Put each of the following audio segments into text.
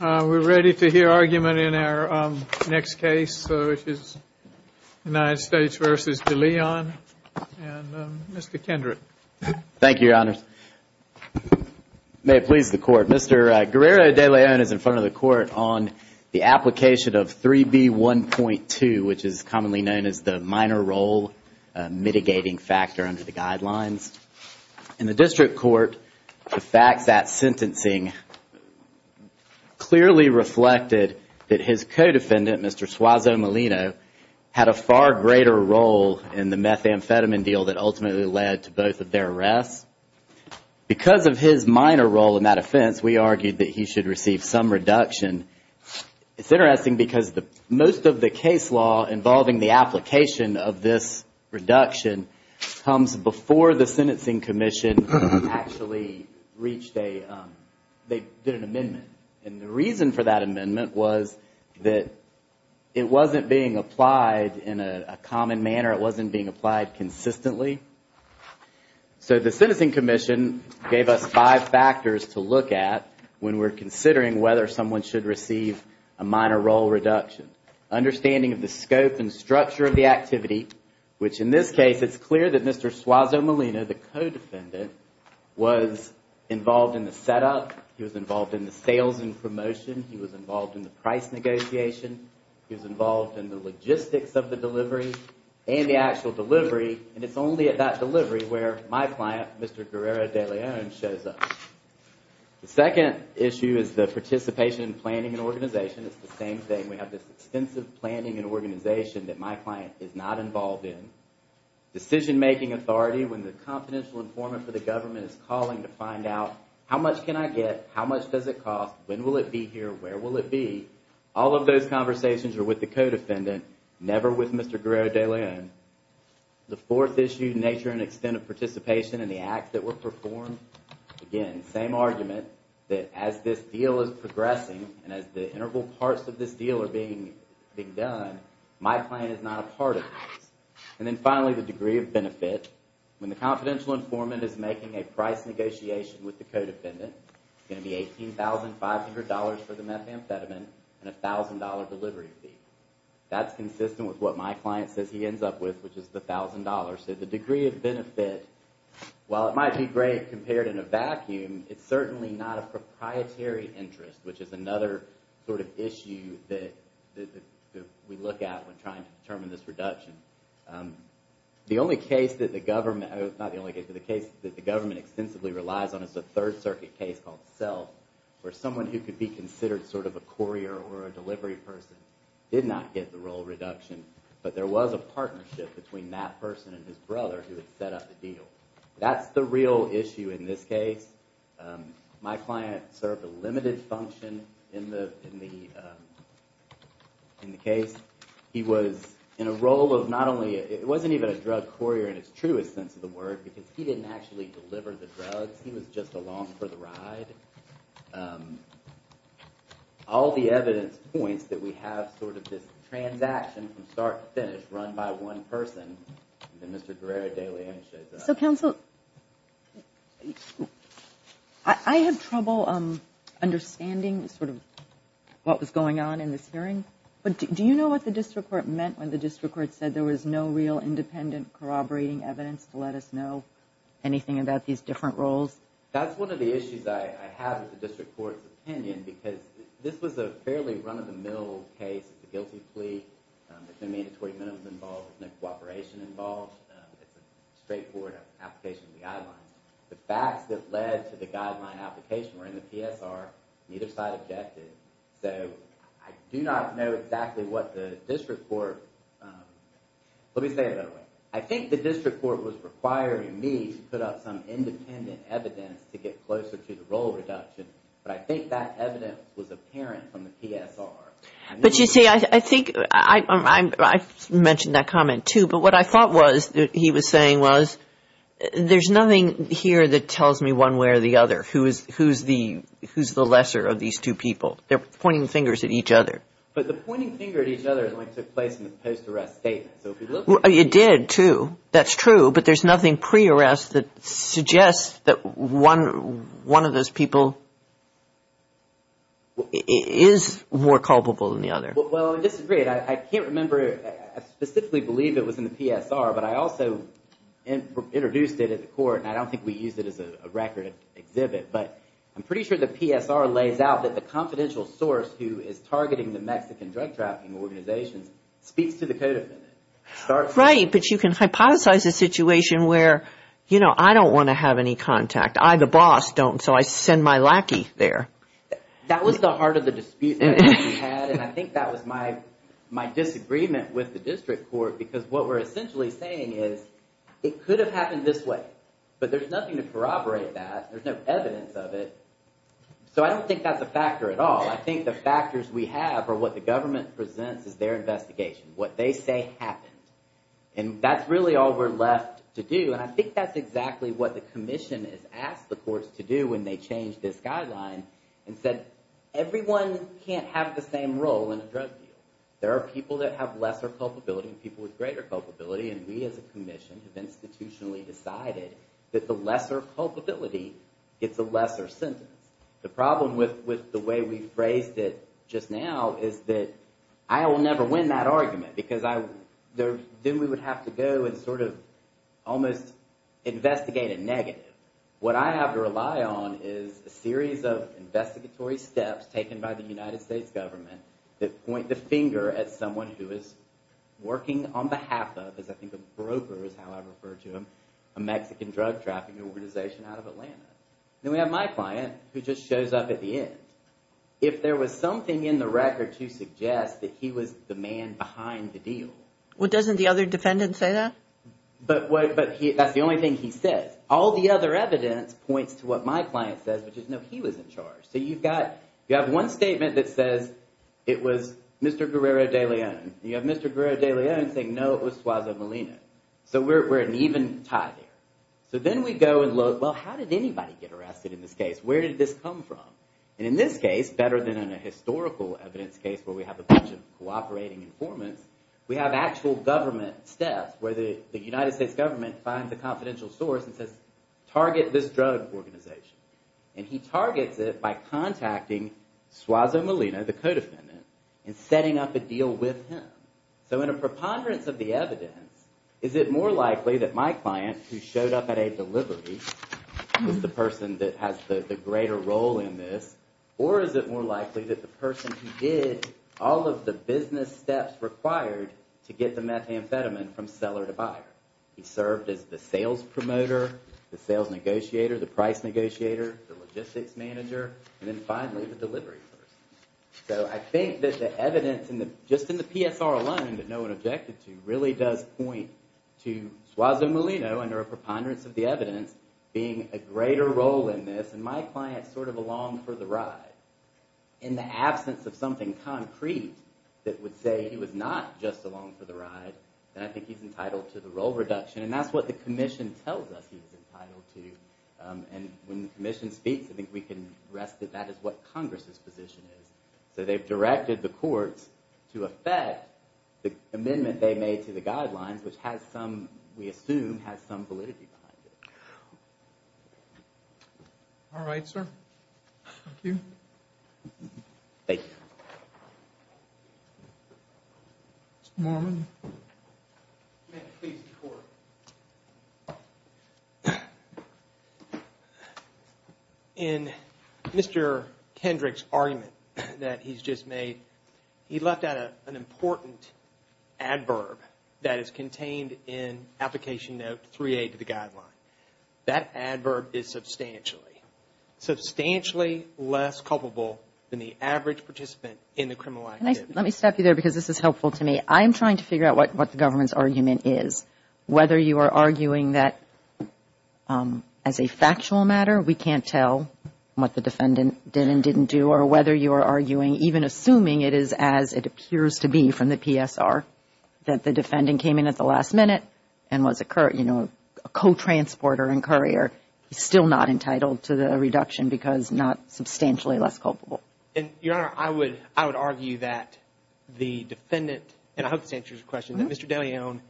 We're ready to hear argument in our next case, which is United States v. Deleon, and Mr. Kendrick. Thank you, Your Honor. May it please the Court. Mr. Guerrero-Deleon is in front of the Court on the application of 3B1.2, which is commonly known as the minor role mitigating factor under the guidelines. In the district court, the facts at sentencing clearly reflected that his co-defendant, Mr. Suazo Molino, had a far greater role in the methamphetamine deal that ultimately led to both of their arrests. Because of his minor role in that offense, we argued that he should receive some reduction. It's interesting because most of the case law involving the application of this reduction comes before the sentencing commission actually reached a, they did an amendment. And the reason for that amendment was that it wasn't being applied in a common manner. It wasn't being applied consistently. So the sentencing commission gave us five factors to look at when we're considering whether someone should receive a minor role reduction. Understanding of the scope and structure of the activity, which in this case it's clear that Mr. Suazo Molino, the co-defendant, was involved in the setup. He was involved in the sales and promotion. He was involved in the price negotiation. He was involved in the logistics of the delivery and the actual delivery. And it's only at that delivery where my client, Mr. Guerrero-Deleon, shows up. The second issue is the participation in planning and organization. It's the same thing. We have this extensive planning and organization that my client is not involved in. Decision-making authority, when the confidential informant for the government is calling to find out, how much can I get? How much does it cost? When will it be here? Where will it be? All of those conversations are with the co-defendant, never with Mr. Guerrero-Deleon. The fourth issue, nature and extent of participation in the acts that were performed. Again, same argument that as this deal is progressing and as the integral parts of this deal are being done, my client is not a part of this. And then finally, the degree of benefit. When the confidential informant is making a price negotiation with the co-defendant, it's going to be $18,500 for the methamphetamine and a $1,000 delivery fee. That's consistent with what my client says he ends up with, which is the $1,000. So the degree of benefit, while it might be great compared in a vacuum, it's certainly not a proprietary interest, which is another sort of issue that we look at when trying to determine this reduction. The only case that the government, not the only case, but the case that the government extensively relies on is a Third Circuit case called Self, where someone who could be considered sort of a courier or a delivery person did not get the role reduction, but there was a partnership between that person and his brother who had set up the deal. That's the real issue in this case. My client served a limited function in the case. He was in a role of not only, it wasn't even a drug courier in its truest sense of the word, because he didn't actually deliver the drugs. He was just along for the ride. All the evidence points that we have sort of this transaction from start to finish run by one person. I have trouble understanding sort of what was going on in this hearing. Do you know what the district court meant when the district court said there was no real independent corroborating evidence to let us know anything about these different roles? That's one of the issues I have with the district court's opinion because this was a fairly run-of-the-mill case. It's a guilty plea. There's no mandatory minimum involved. There's no cooperation involved. It's a straightforward application of the guidelines. The facts that led to the guideline application were in the PSR. Neither side objected. So I do not know exactly what the district court, let me say it another way. I think the district court was requiring me to put up some independent evidence to get closer to the role reduction, but I think that evidence was apparent from the PSR. But you see, I think I mentioned that comment too, but what I thought was he was saying was there's nothing here that tells me one way or the other. Who's the lesser of these two people? They're pointing fingers at each other. But the pointing finger at each other only took place in the post-arrest statement. It did too. That's true, but there's nothing pre-arrest that suggests that one of those people is more culpable than the other. Well, I disagree. I can't remember. I specifically believe it was in the PSR, but I also introduced it at the court, and I don't think we used it as a record exhibit. But I'm pretty sure the PSR lays out that the confidential source who is targeting the Mexican drug trafficking organizations speaks to the code of conduct. Right, but you can hypothesize a situation where, you know, I don't want to have any contact. I, the boss, don't, so I send my lackey there. That was the heart of the dispute that we had, and I think that was my disagreement with the district court, because what we're essentially saying is it could have happened this way, but there's nothing to corroborate that. There's no evidence of it, so I don't think that's a factor at all. I think the factors we have are what the government presents as their investigation, what they say happened. And that's really all we're left to do, and I think that's exactly what the commission has asked the courts to do when they changed this guideline and said, everyone can't have the same role in a drug deal. There are people that have lesser culpability and people with greater culpability, and we as a commission have institutionally decided that the lesser culpability gets a lesser sentence. The problem with the way we phrased it just now is that I will never win that argument, because then we would have to go and sort of almost investigate a negative. What I have to rely on is a series of investigatory steps taken by the United States government that point the finger at someone who is working on behalf of, as I think a broker is how I refer to him, a Mexican drug trafficking organization out of Atlanta. Then we have my client, who just shows up at the end. If there was something in the record to suggest that he was the man behind the deal... The other evidence points to what my client says, which is no, he was in charge. You have one statement that says it was Mr. Guerrero de Leon, and you have Mr. Guerrero de Leon saying, no, it was Suazo Molina. We're in even tie there. Then we go and look, how did anybody get arrested in this case? Where did this come from? In this case, better than in a historical evidence case where we have a bunch of cooperating informants, we have actual government staff where the United States government finds a confidential source and says, target this drug organization. He targets it by contacting Suazo Molina, the co-defendant, and setting up a deal with him. In a preponderance of the evidence, is it more likely that my client, who showed up at a delivery, was the person that has the greater role in this, or is it more likely that the person who did all of the business steps required to get the methamphetamine from seller to buyer? He served as the sales promoter, the sales negotiator, the price negotiator, the logistics manager, and then finally the delivery person. So I think that the evidence, just in the PSR alone that no one objected to, really does point to Suazo Molina, under a preponderance of the evidence, being a greater role in this, and my client sort of along for the ride. In the absence of something concrete that would say he was not just along for the ride, then I think he's entitled to the role reduction. And that's what the Commission tells us he's entitled to. And when the Commission speaks, I think we can rest that that is what Congress's position is. So they've directed the courts to effect the amendment they made to the guidelines, which has some, we assume, has some validity behind it. All right, sir. Thank you. Thank you. Mr. Mormon. In Mr. Kendrick's argument that he's just made, he left out an important adverb that is contained in Application Note 3A to the Guideline. That adverb is substantially less culpable than the average participant in the criminal activity. Let me stop you there because this is helpful to me. I'm trying to figure out what the government's argument is, whether you are arguing that as a factual matter, we can't tell what the defendant did and didn't do, or whether you are arguing, even assuming it is as it appears to be from the PSR, that the defendant came in at the last minute and was a co-transporter and courier, he's still not entitled to the reduction because not substantially less culpable. Your Honor, I would argue that the defendant, and I hope this answers your question, that Mr. DeLeon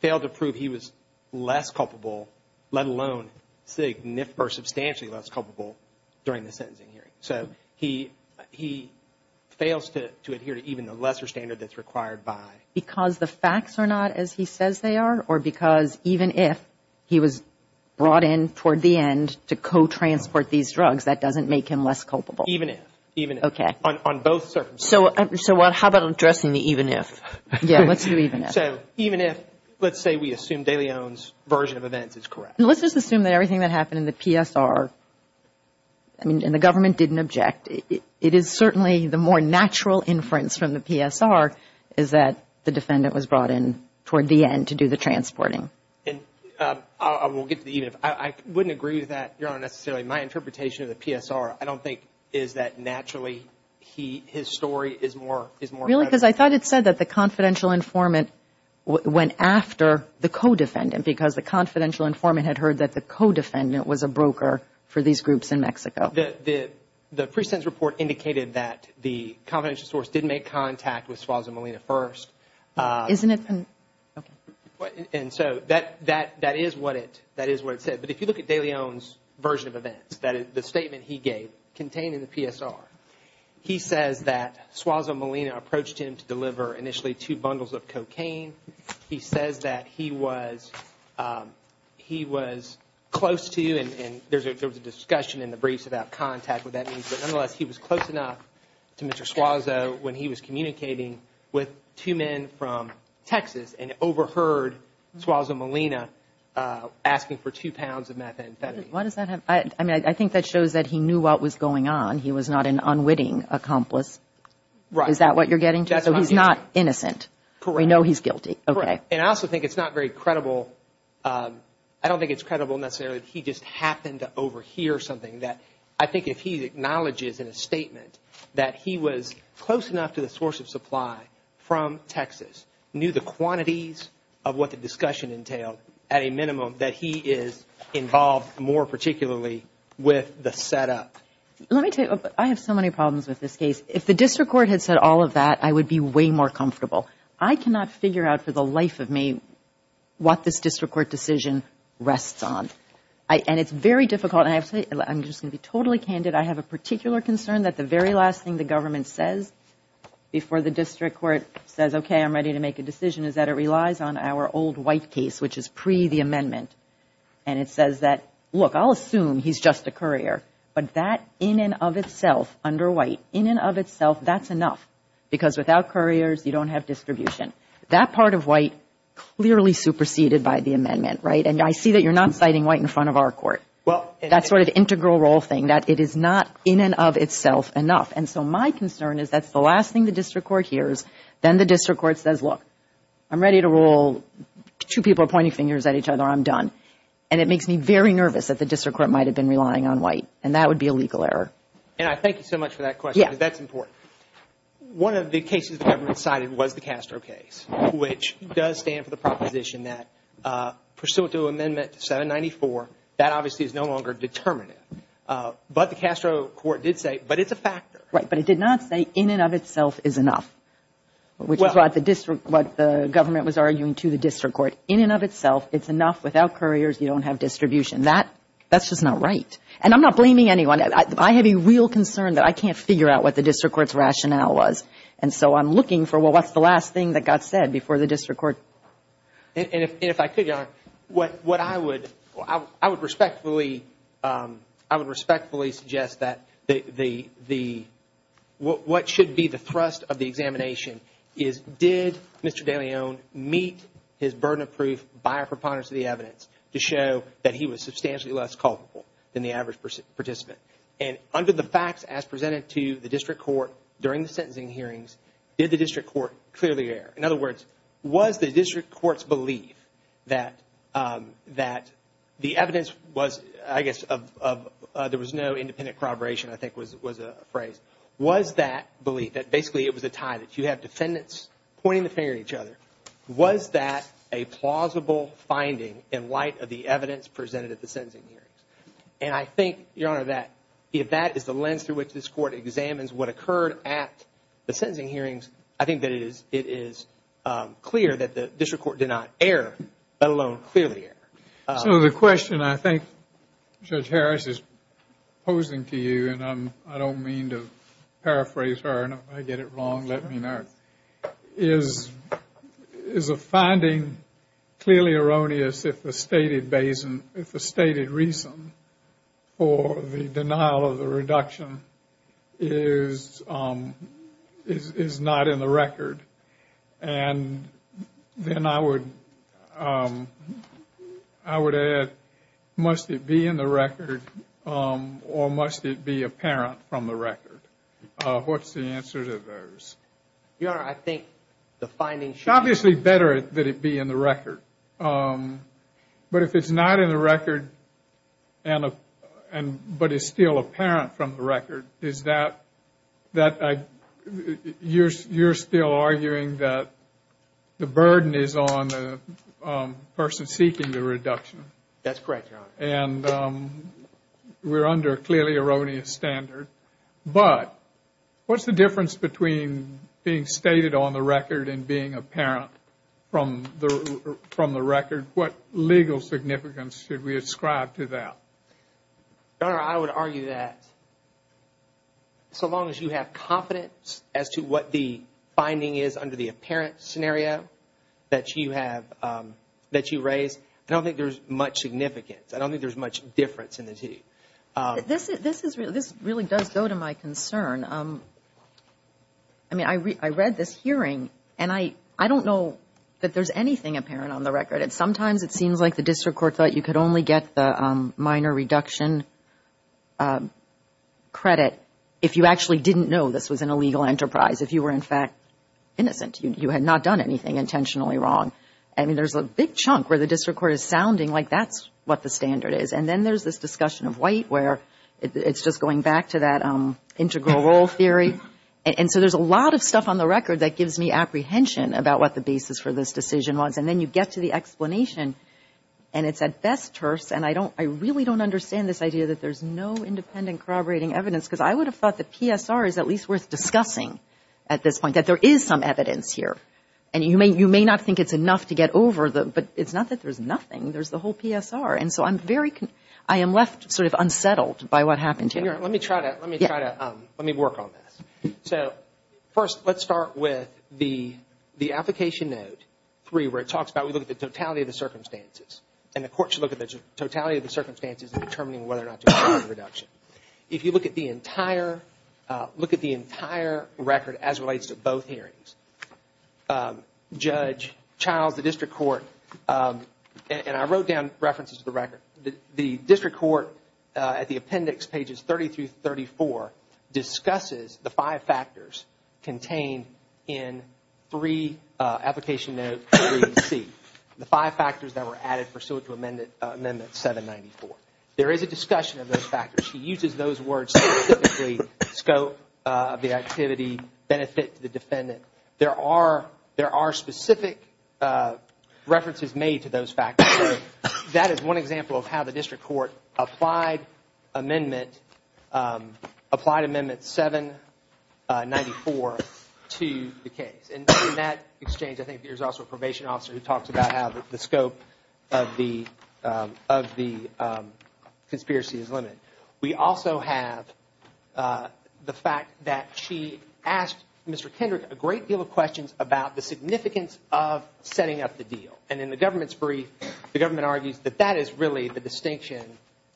failed to prove he was less culpable, let alone substantially less culpable during the sentencing hearing. He fails to adhere to even the lesser standard that's required by... Because the facts are not as he says they are, or because even if he was brought in toward the end to co-transport these drugs, that doesn't make him less culpable? Even if. Even if. On both circumstances. So how about addressing the even if? Yeah, let's do even if. So even if, let's say we assume DeLeon's version of events is correct. Let's just assume that everything that happened in the PSR, and the government didn't object, it is certainly the more natural inference from the PSR is that the defendant was brought in is that naturally his story is more relevant. Really? Because I thought it said that the confidential informant went after the co-defendant, because the confidential informant had heard that the co-defendant was a broker for these groups in Mexico. The pre-sentence report indicated that the confidential source did make contact with Suárez and Molina first. Isn't it? Okay. And so that is what it said. But if you look at DeLeon's version of events, the statement he gave contained in the PSR, he says that Suárez and Molina approached him to deliver initially two bundles of cocaine. He says that he was close to, and there was a discussion in the briefs about contact, what that means, but nonetheless he was close enough to Mr. Suárez when he was communicating with two men from Texas and overheard Suárez and Molina asking for two pounds of methamphetamine. Why does that have, I mean, I think that shows that he knew what was going on. He was not an unwitting accomplice. Right. Is that what you're getting to? So he's not innocent. Correct. We know he's guilty. Okay. And I also think it's not very credible, I don't think it's credible necessarily that he just happened to overhear something. I think if he acknowledges in a statement that he was close enough to the source of supply from Texas, knew the quantities of what the discussion entailed, at a minimum, that he is involved more particularly with the setup. Let me tell you, I have so many problems with this case. If the district court had said all of that, I would be way more comfortable. I cannot figure out for the life of me what this district court decision rests on. And it's very difficult. I'm just going to be totally candid. I have a particular concern that the very last thing the government says before the district court says, okay, I'm ready to make a decision, is that it relies on our old white case, which is pre the amendment. And it says that, look, I'll assume he's just a courier. But that in and of itself, under white, in and of itself, that's enough. Because without couriers, you don't have distribution. That part of white clearly superseded by the amendment, right? And I see that you're not citing white in front of our court. That sort of integral role thing, that it is not in and of itself enough. And so my concern is that's the last thing the district court hears. Then the district court says, look, I'm ready to rule. Two people are pointing fingers at each other. I'm done. And it makes me very nervous that the district court might have been relying on white. And that would be a legal error. And I thank you so much for that question, because that's important. One of the cases the government cited was the Castro case, which does stand for the proposition that, pursuant to amendment 794, that obviously is no longer determinative. But the Castro court did say, but it's a factor. Right. But it did not say in and of itself is enough, which is what the government was arguing to the district court. In and of itself, it's enough. Without couriers, you don't have distribution. That's just not right. And I'm not blaming anyone. I have a real concern that I can't figure out what the district court's rationale was. And so I'm looking for, well, what's the last thing that got said before the district court? And if I could, Your Honor, what I would I would respectfully I would respectfully suggest that the the what should be the thrust of the examination is, did Mr. De Leon meet his burden of proof by a preponderance of the evidence to show that he was substantially less culpable than the average participant? And under the facts as presented to the district court during the sentencing hearings, did the district court clearly err? In other words, was the district court's belief that that the evidence was, I guess, of there was no independent corroboration, I think was a phrase. Was that belief that basically it was a tie that you have defendants pointing the finger at each other? Was that a plausible finding in light of the evidence presented at the sentencing hearings? And I think, Your Honor, that if that is the lens through which this court examines what occurred at the sentencing hearings, I think that it is it is clear that the district court did not err, let alone clearly err. So the question I think Judge Harris is posing to you, and I don't mean to paraphrase her and I get it wrong, let me not, is a finding clearly erroneous if the stated reason for the denial of the reduction is not in the record. And then I would add, must it be in the record or must it be apparent from the record? What's the answer to those? Your Honor, I think the finding should be... It's obviously better that it be in the record. But if it's not in the record and but it's still apparent from the record, is that you're still arguing that the burden is on the person seeking the reduction? That's correct, Your Honor. And we're under a clearly erroneous standard. But what's the difference between being stated on the record and being apparent from the record? What legal significance should we ascribe to that? Your Honor, I would argue that so long as you have confidence as to what the finding is under the apparent scenario that you have, that you have confidence that it's in the record. I don't think there's much difference in the two. This really does go to my concern. I mean, I read this hearing, and I don't know that there's anything apparent on the record. And sometimes it seems like the district court thought you could only get the minor reduction credit if you actually know what the standard is. And then there's this discussion of white where it's just going back to that integral role theory. And so there's a lot of stuff on the record that gives me apprehension about what the basis for this decision was. And then you get to the explanation, and it's at best terse. And I don't, I really don't understand this idea that there's no independent corroborating evidence. Because I would have thought the PSR is at least worth discussing at this point, that there is some evidence here. And you may not think it's enough to get over the, but it's not that there's nothing. There's the whole PSR. And so I'm very, I am left sort of unsettled by what happened here. Let me work on this. So first, let's start with the application note 3 where it talks about, we look at the totality of the circumstances, and the court should look at the totality of the circumstances in determining whether or not to author the reduction. If you look at the entire record as it relates to both hearings, judge, child, the district court, and I wrote down references to the record, the district court at the appendix pages 30 through 34 discusses the five factors contained in 3 application note 3C, the five factors that were added pursuant to amendment 794. There is a discussion of those factors. She uses those words specifically, scope of the activity, benefit to the defendant. There are specific references made to those factors. So that is one example. Another example of how the district court applied amendment 794 to the case. In that exchange, I think there is also a probation officer who talks about how the scope of the conspiracy is limited. We also have the fact that she asked Mr. Kendrick a great deal of questions about the significance of setting up the deal. And in the government's brief, the government argues that that is really the distinction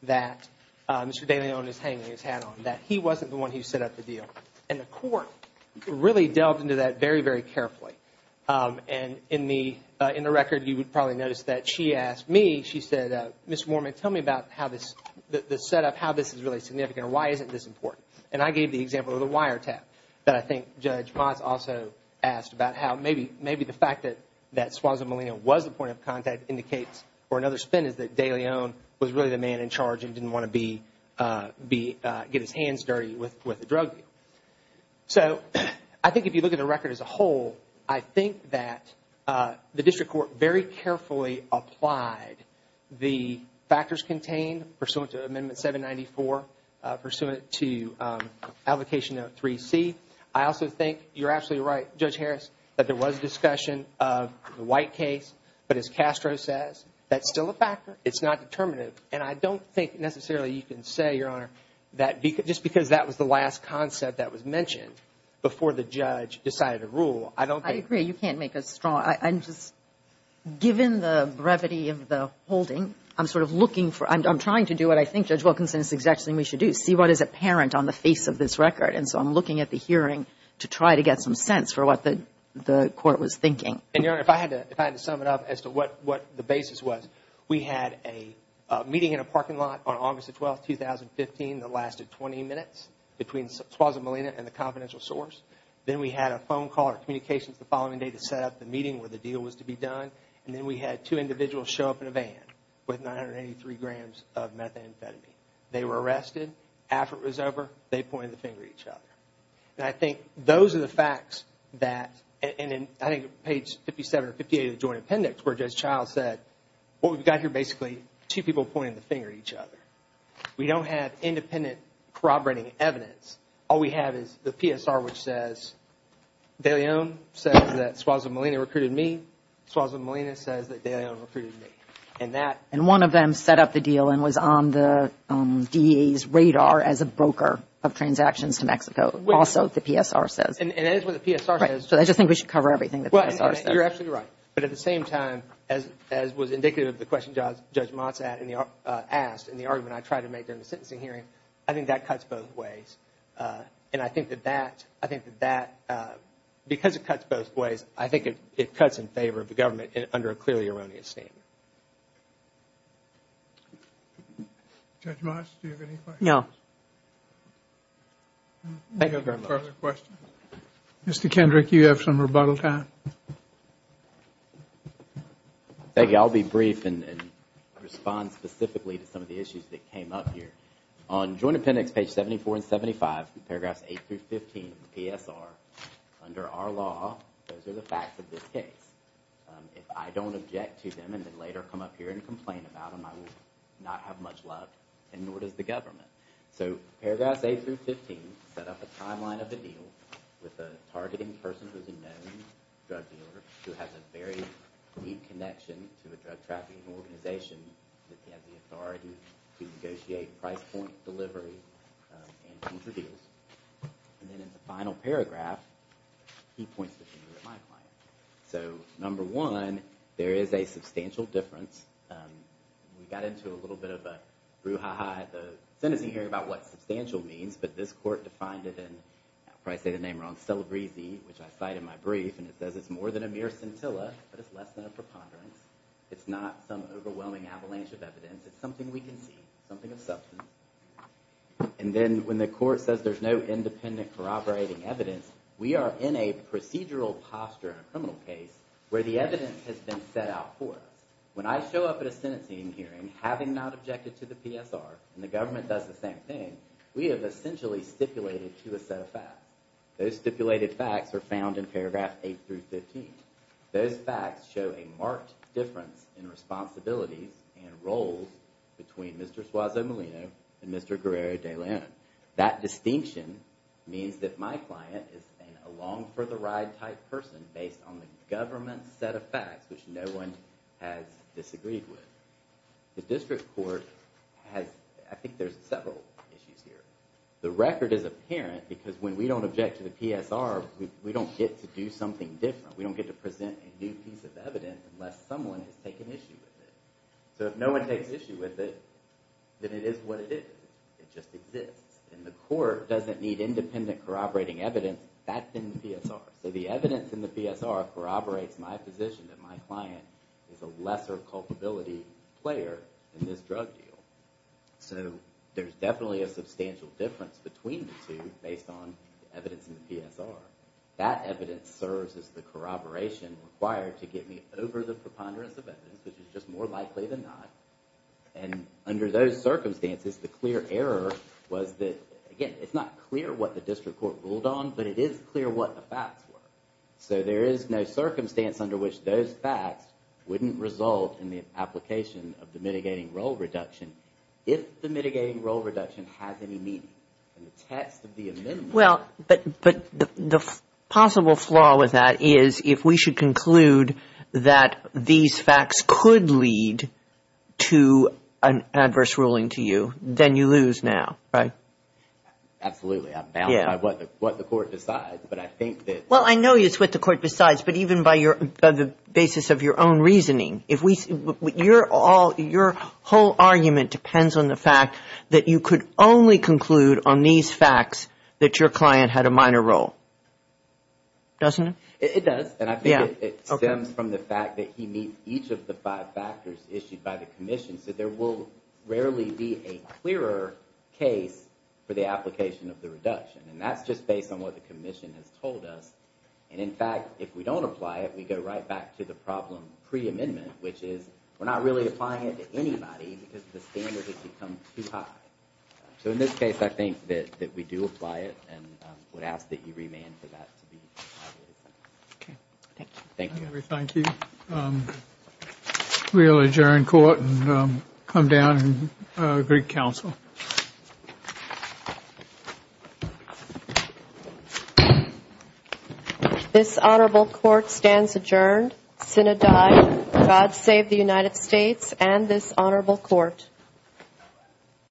that Mr. De Leon is hanging his hat on, that he wasn't the one who set up the deal. And the court really delved into that very, very carefully. And in the record, you would probably notice that she asked me, she said, Mr. Moorman, tell me about the setup, how this is really significant, or why isn't this important? And I gave the example of the wiretap that I think Judge Motz also asked about how maybe the fact that De Leon was really the man in charge and didn't want to get his hands dirty with the drug deal. So I think if you look at the record as a whole, I think that the district court very carefully applied the factors contained pursuant to amendment 794, pursuant to application note 3C. I also think, you're absolutely right, Judge Harris, that there was discussion of the White case, but as Castro says, that still is not the case. It's still a factor. It's not determinative. And I don't think necessarily you can say, Your Honor, that just because that was the last concept that was mentioned before the judge decided to rule, I don't think... I agree. You can't make us strong. I'm just, given the brevity of the holding, I'm sort of looking for, I'm trying to do what I think Judge Wilkinson is exactly saying we should do, see what is apparent on the face of this record. And so I'm looking at the hearing to try to get some sense for what the court was doing. We had a meeting in a parking lot on August 12, 2015 that lasted 20 minutes between Suaza Molina and the confidential source. Then we had a phone call or communications the following day to set up the meeting where the deal was to be done. And then we had two individuals show up in a van with 983 grams of methamphetamine. They were arrested. After it was over, they pointed the finger at each other. And I think those are the facts that, and I think page 57 or 58 of the joint appendix where Judge Childs said, What we've got to do is we've got to get the evidence. We've got here basically two people pointing the finger at each other. We don't have independent corroborating evidence. All we have is the PSR which says, De Leon says that Suaza Molina recruited me. Suaza Molina says that De Leon recruited me. And that... And one of them set up the deal and was on the DEA's radar as a broker of transactions to Mexico, also the PSR says. And that is what the PSR says. So I just think we should cover everything that the PSR says. Well, you're absolutely right. But at the same time, as was indicative of the question Judge Mott's asked in the argument I tried to make during the sentencing hearing, I think that cuts both ways. And I think that that, because it cuts both ways, I think it cuts in favor of the government under a clearly erroneous name. Judge Mott, do you have any questions? No. Mr. Kendrick, you have some rebuttal time. I'll be brief and respond specifically to some of the issues that came up here. On Joint Appendix page 74 and 75, paragraphs 8 through 15 of the PSR, under our law, those are the facts of this case. If I don't object to them and then later come up here and complain about them, I will not have much love, and nor does the government. So paragraphs 8 through 15 set up a timeline of the deal with a targeting person who is a known drug dealer, who has a very deep connection to a drug trafficking organization that has the authority to negotiate price points, delivery, and deals. And then in the final paragraph, he points the finger at my client. So, number one, there is a substantial difference. We got into a little bit of a brouhaha at the sentencing hearing about what substantial means, but this court defined it in, I'll probably say the name wrong, celebrezee, which I cite in my brief, and it says it's more than a mere scintilla, but it's less than a preponderance. It's not some overwhelming avalanche of evidence, it's something we can see, something of substance. And then when the court says there's no independent corroborating evidence, we are in a procedural posture in a criminal case where the evidence has been set out for us. When I show up at a sentencing hearing having not objected to the PSR, and the government does the same thing, we have essentially stipulated to a set of facts. Those stipulated facts are found in paragraph 8 through 15. Those facts show a marked difference in responsibilities and roles between Mr. Suazo Molino and Mr. Guerrero de Leon. That distinction means that my client is an along for the ride type person based on the government set of facts, which no one has disagreed with. The district court has, I think there's several issues here. The record is apparent because when we don't object to the PSR, we don't get to do something different. We don't get to present a new piece of evidence unless someone has taken issue with it. So if no one takes issue with it, then it is what it is. It just exists. And the court doesn't need independent corroborating evidence. That's in the PSR. So the evidence in the PSR corroborates my position that my client is a lesser culpability player in this drug deal. So there's definitely a substantial difference between the two based on the evidence in the PSR. That evidence serves as the corroboration required to get me over the preponderance of evidence, which is just more likely than not. And under those circumstances, the clear error was that, again, it's not clear what the district court ruled on, but it is clear what the facts were. So there is no circumstance under which those facts wouldn't result in the application of the mitigating role reduction, if the mitigating role reduction has any meaning. And the test of the amendment... But the possible flaw with that is if we should conclude that these facts could lead to an adverse ruling to you, then you lose now, right? Absolutely. I'm bound by what the court decides. But I think that... Well, I know it's what the court decides, but even by the basis of your own reasoning. Your whole argument depends on the fact that you could only conclude on these facts that your client had a minor role. Doesn't it? It does. And I think it stems from the fact that he meets each of the five factors issued by the commission. So there will rarely be a clearer case for the application of the reduction. And that's just based on what the commission has told us. And in fact, if we don't apply it, we go right back to the problem pre-amendment, which is we're not really applying it to anybody because the standard has become too high. So in this case, I think that we do apply it and would ask that you remand for that to be... Okay. Thank you. This honorable court stands adjourned.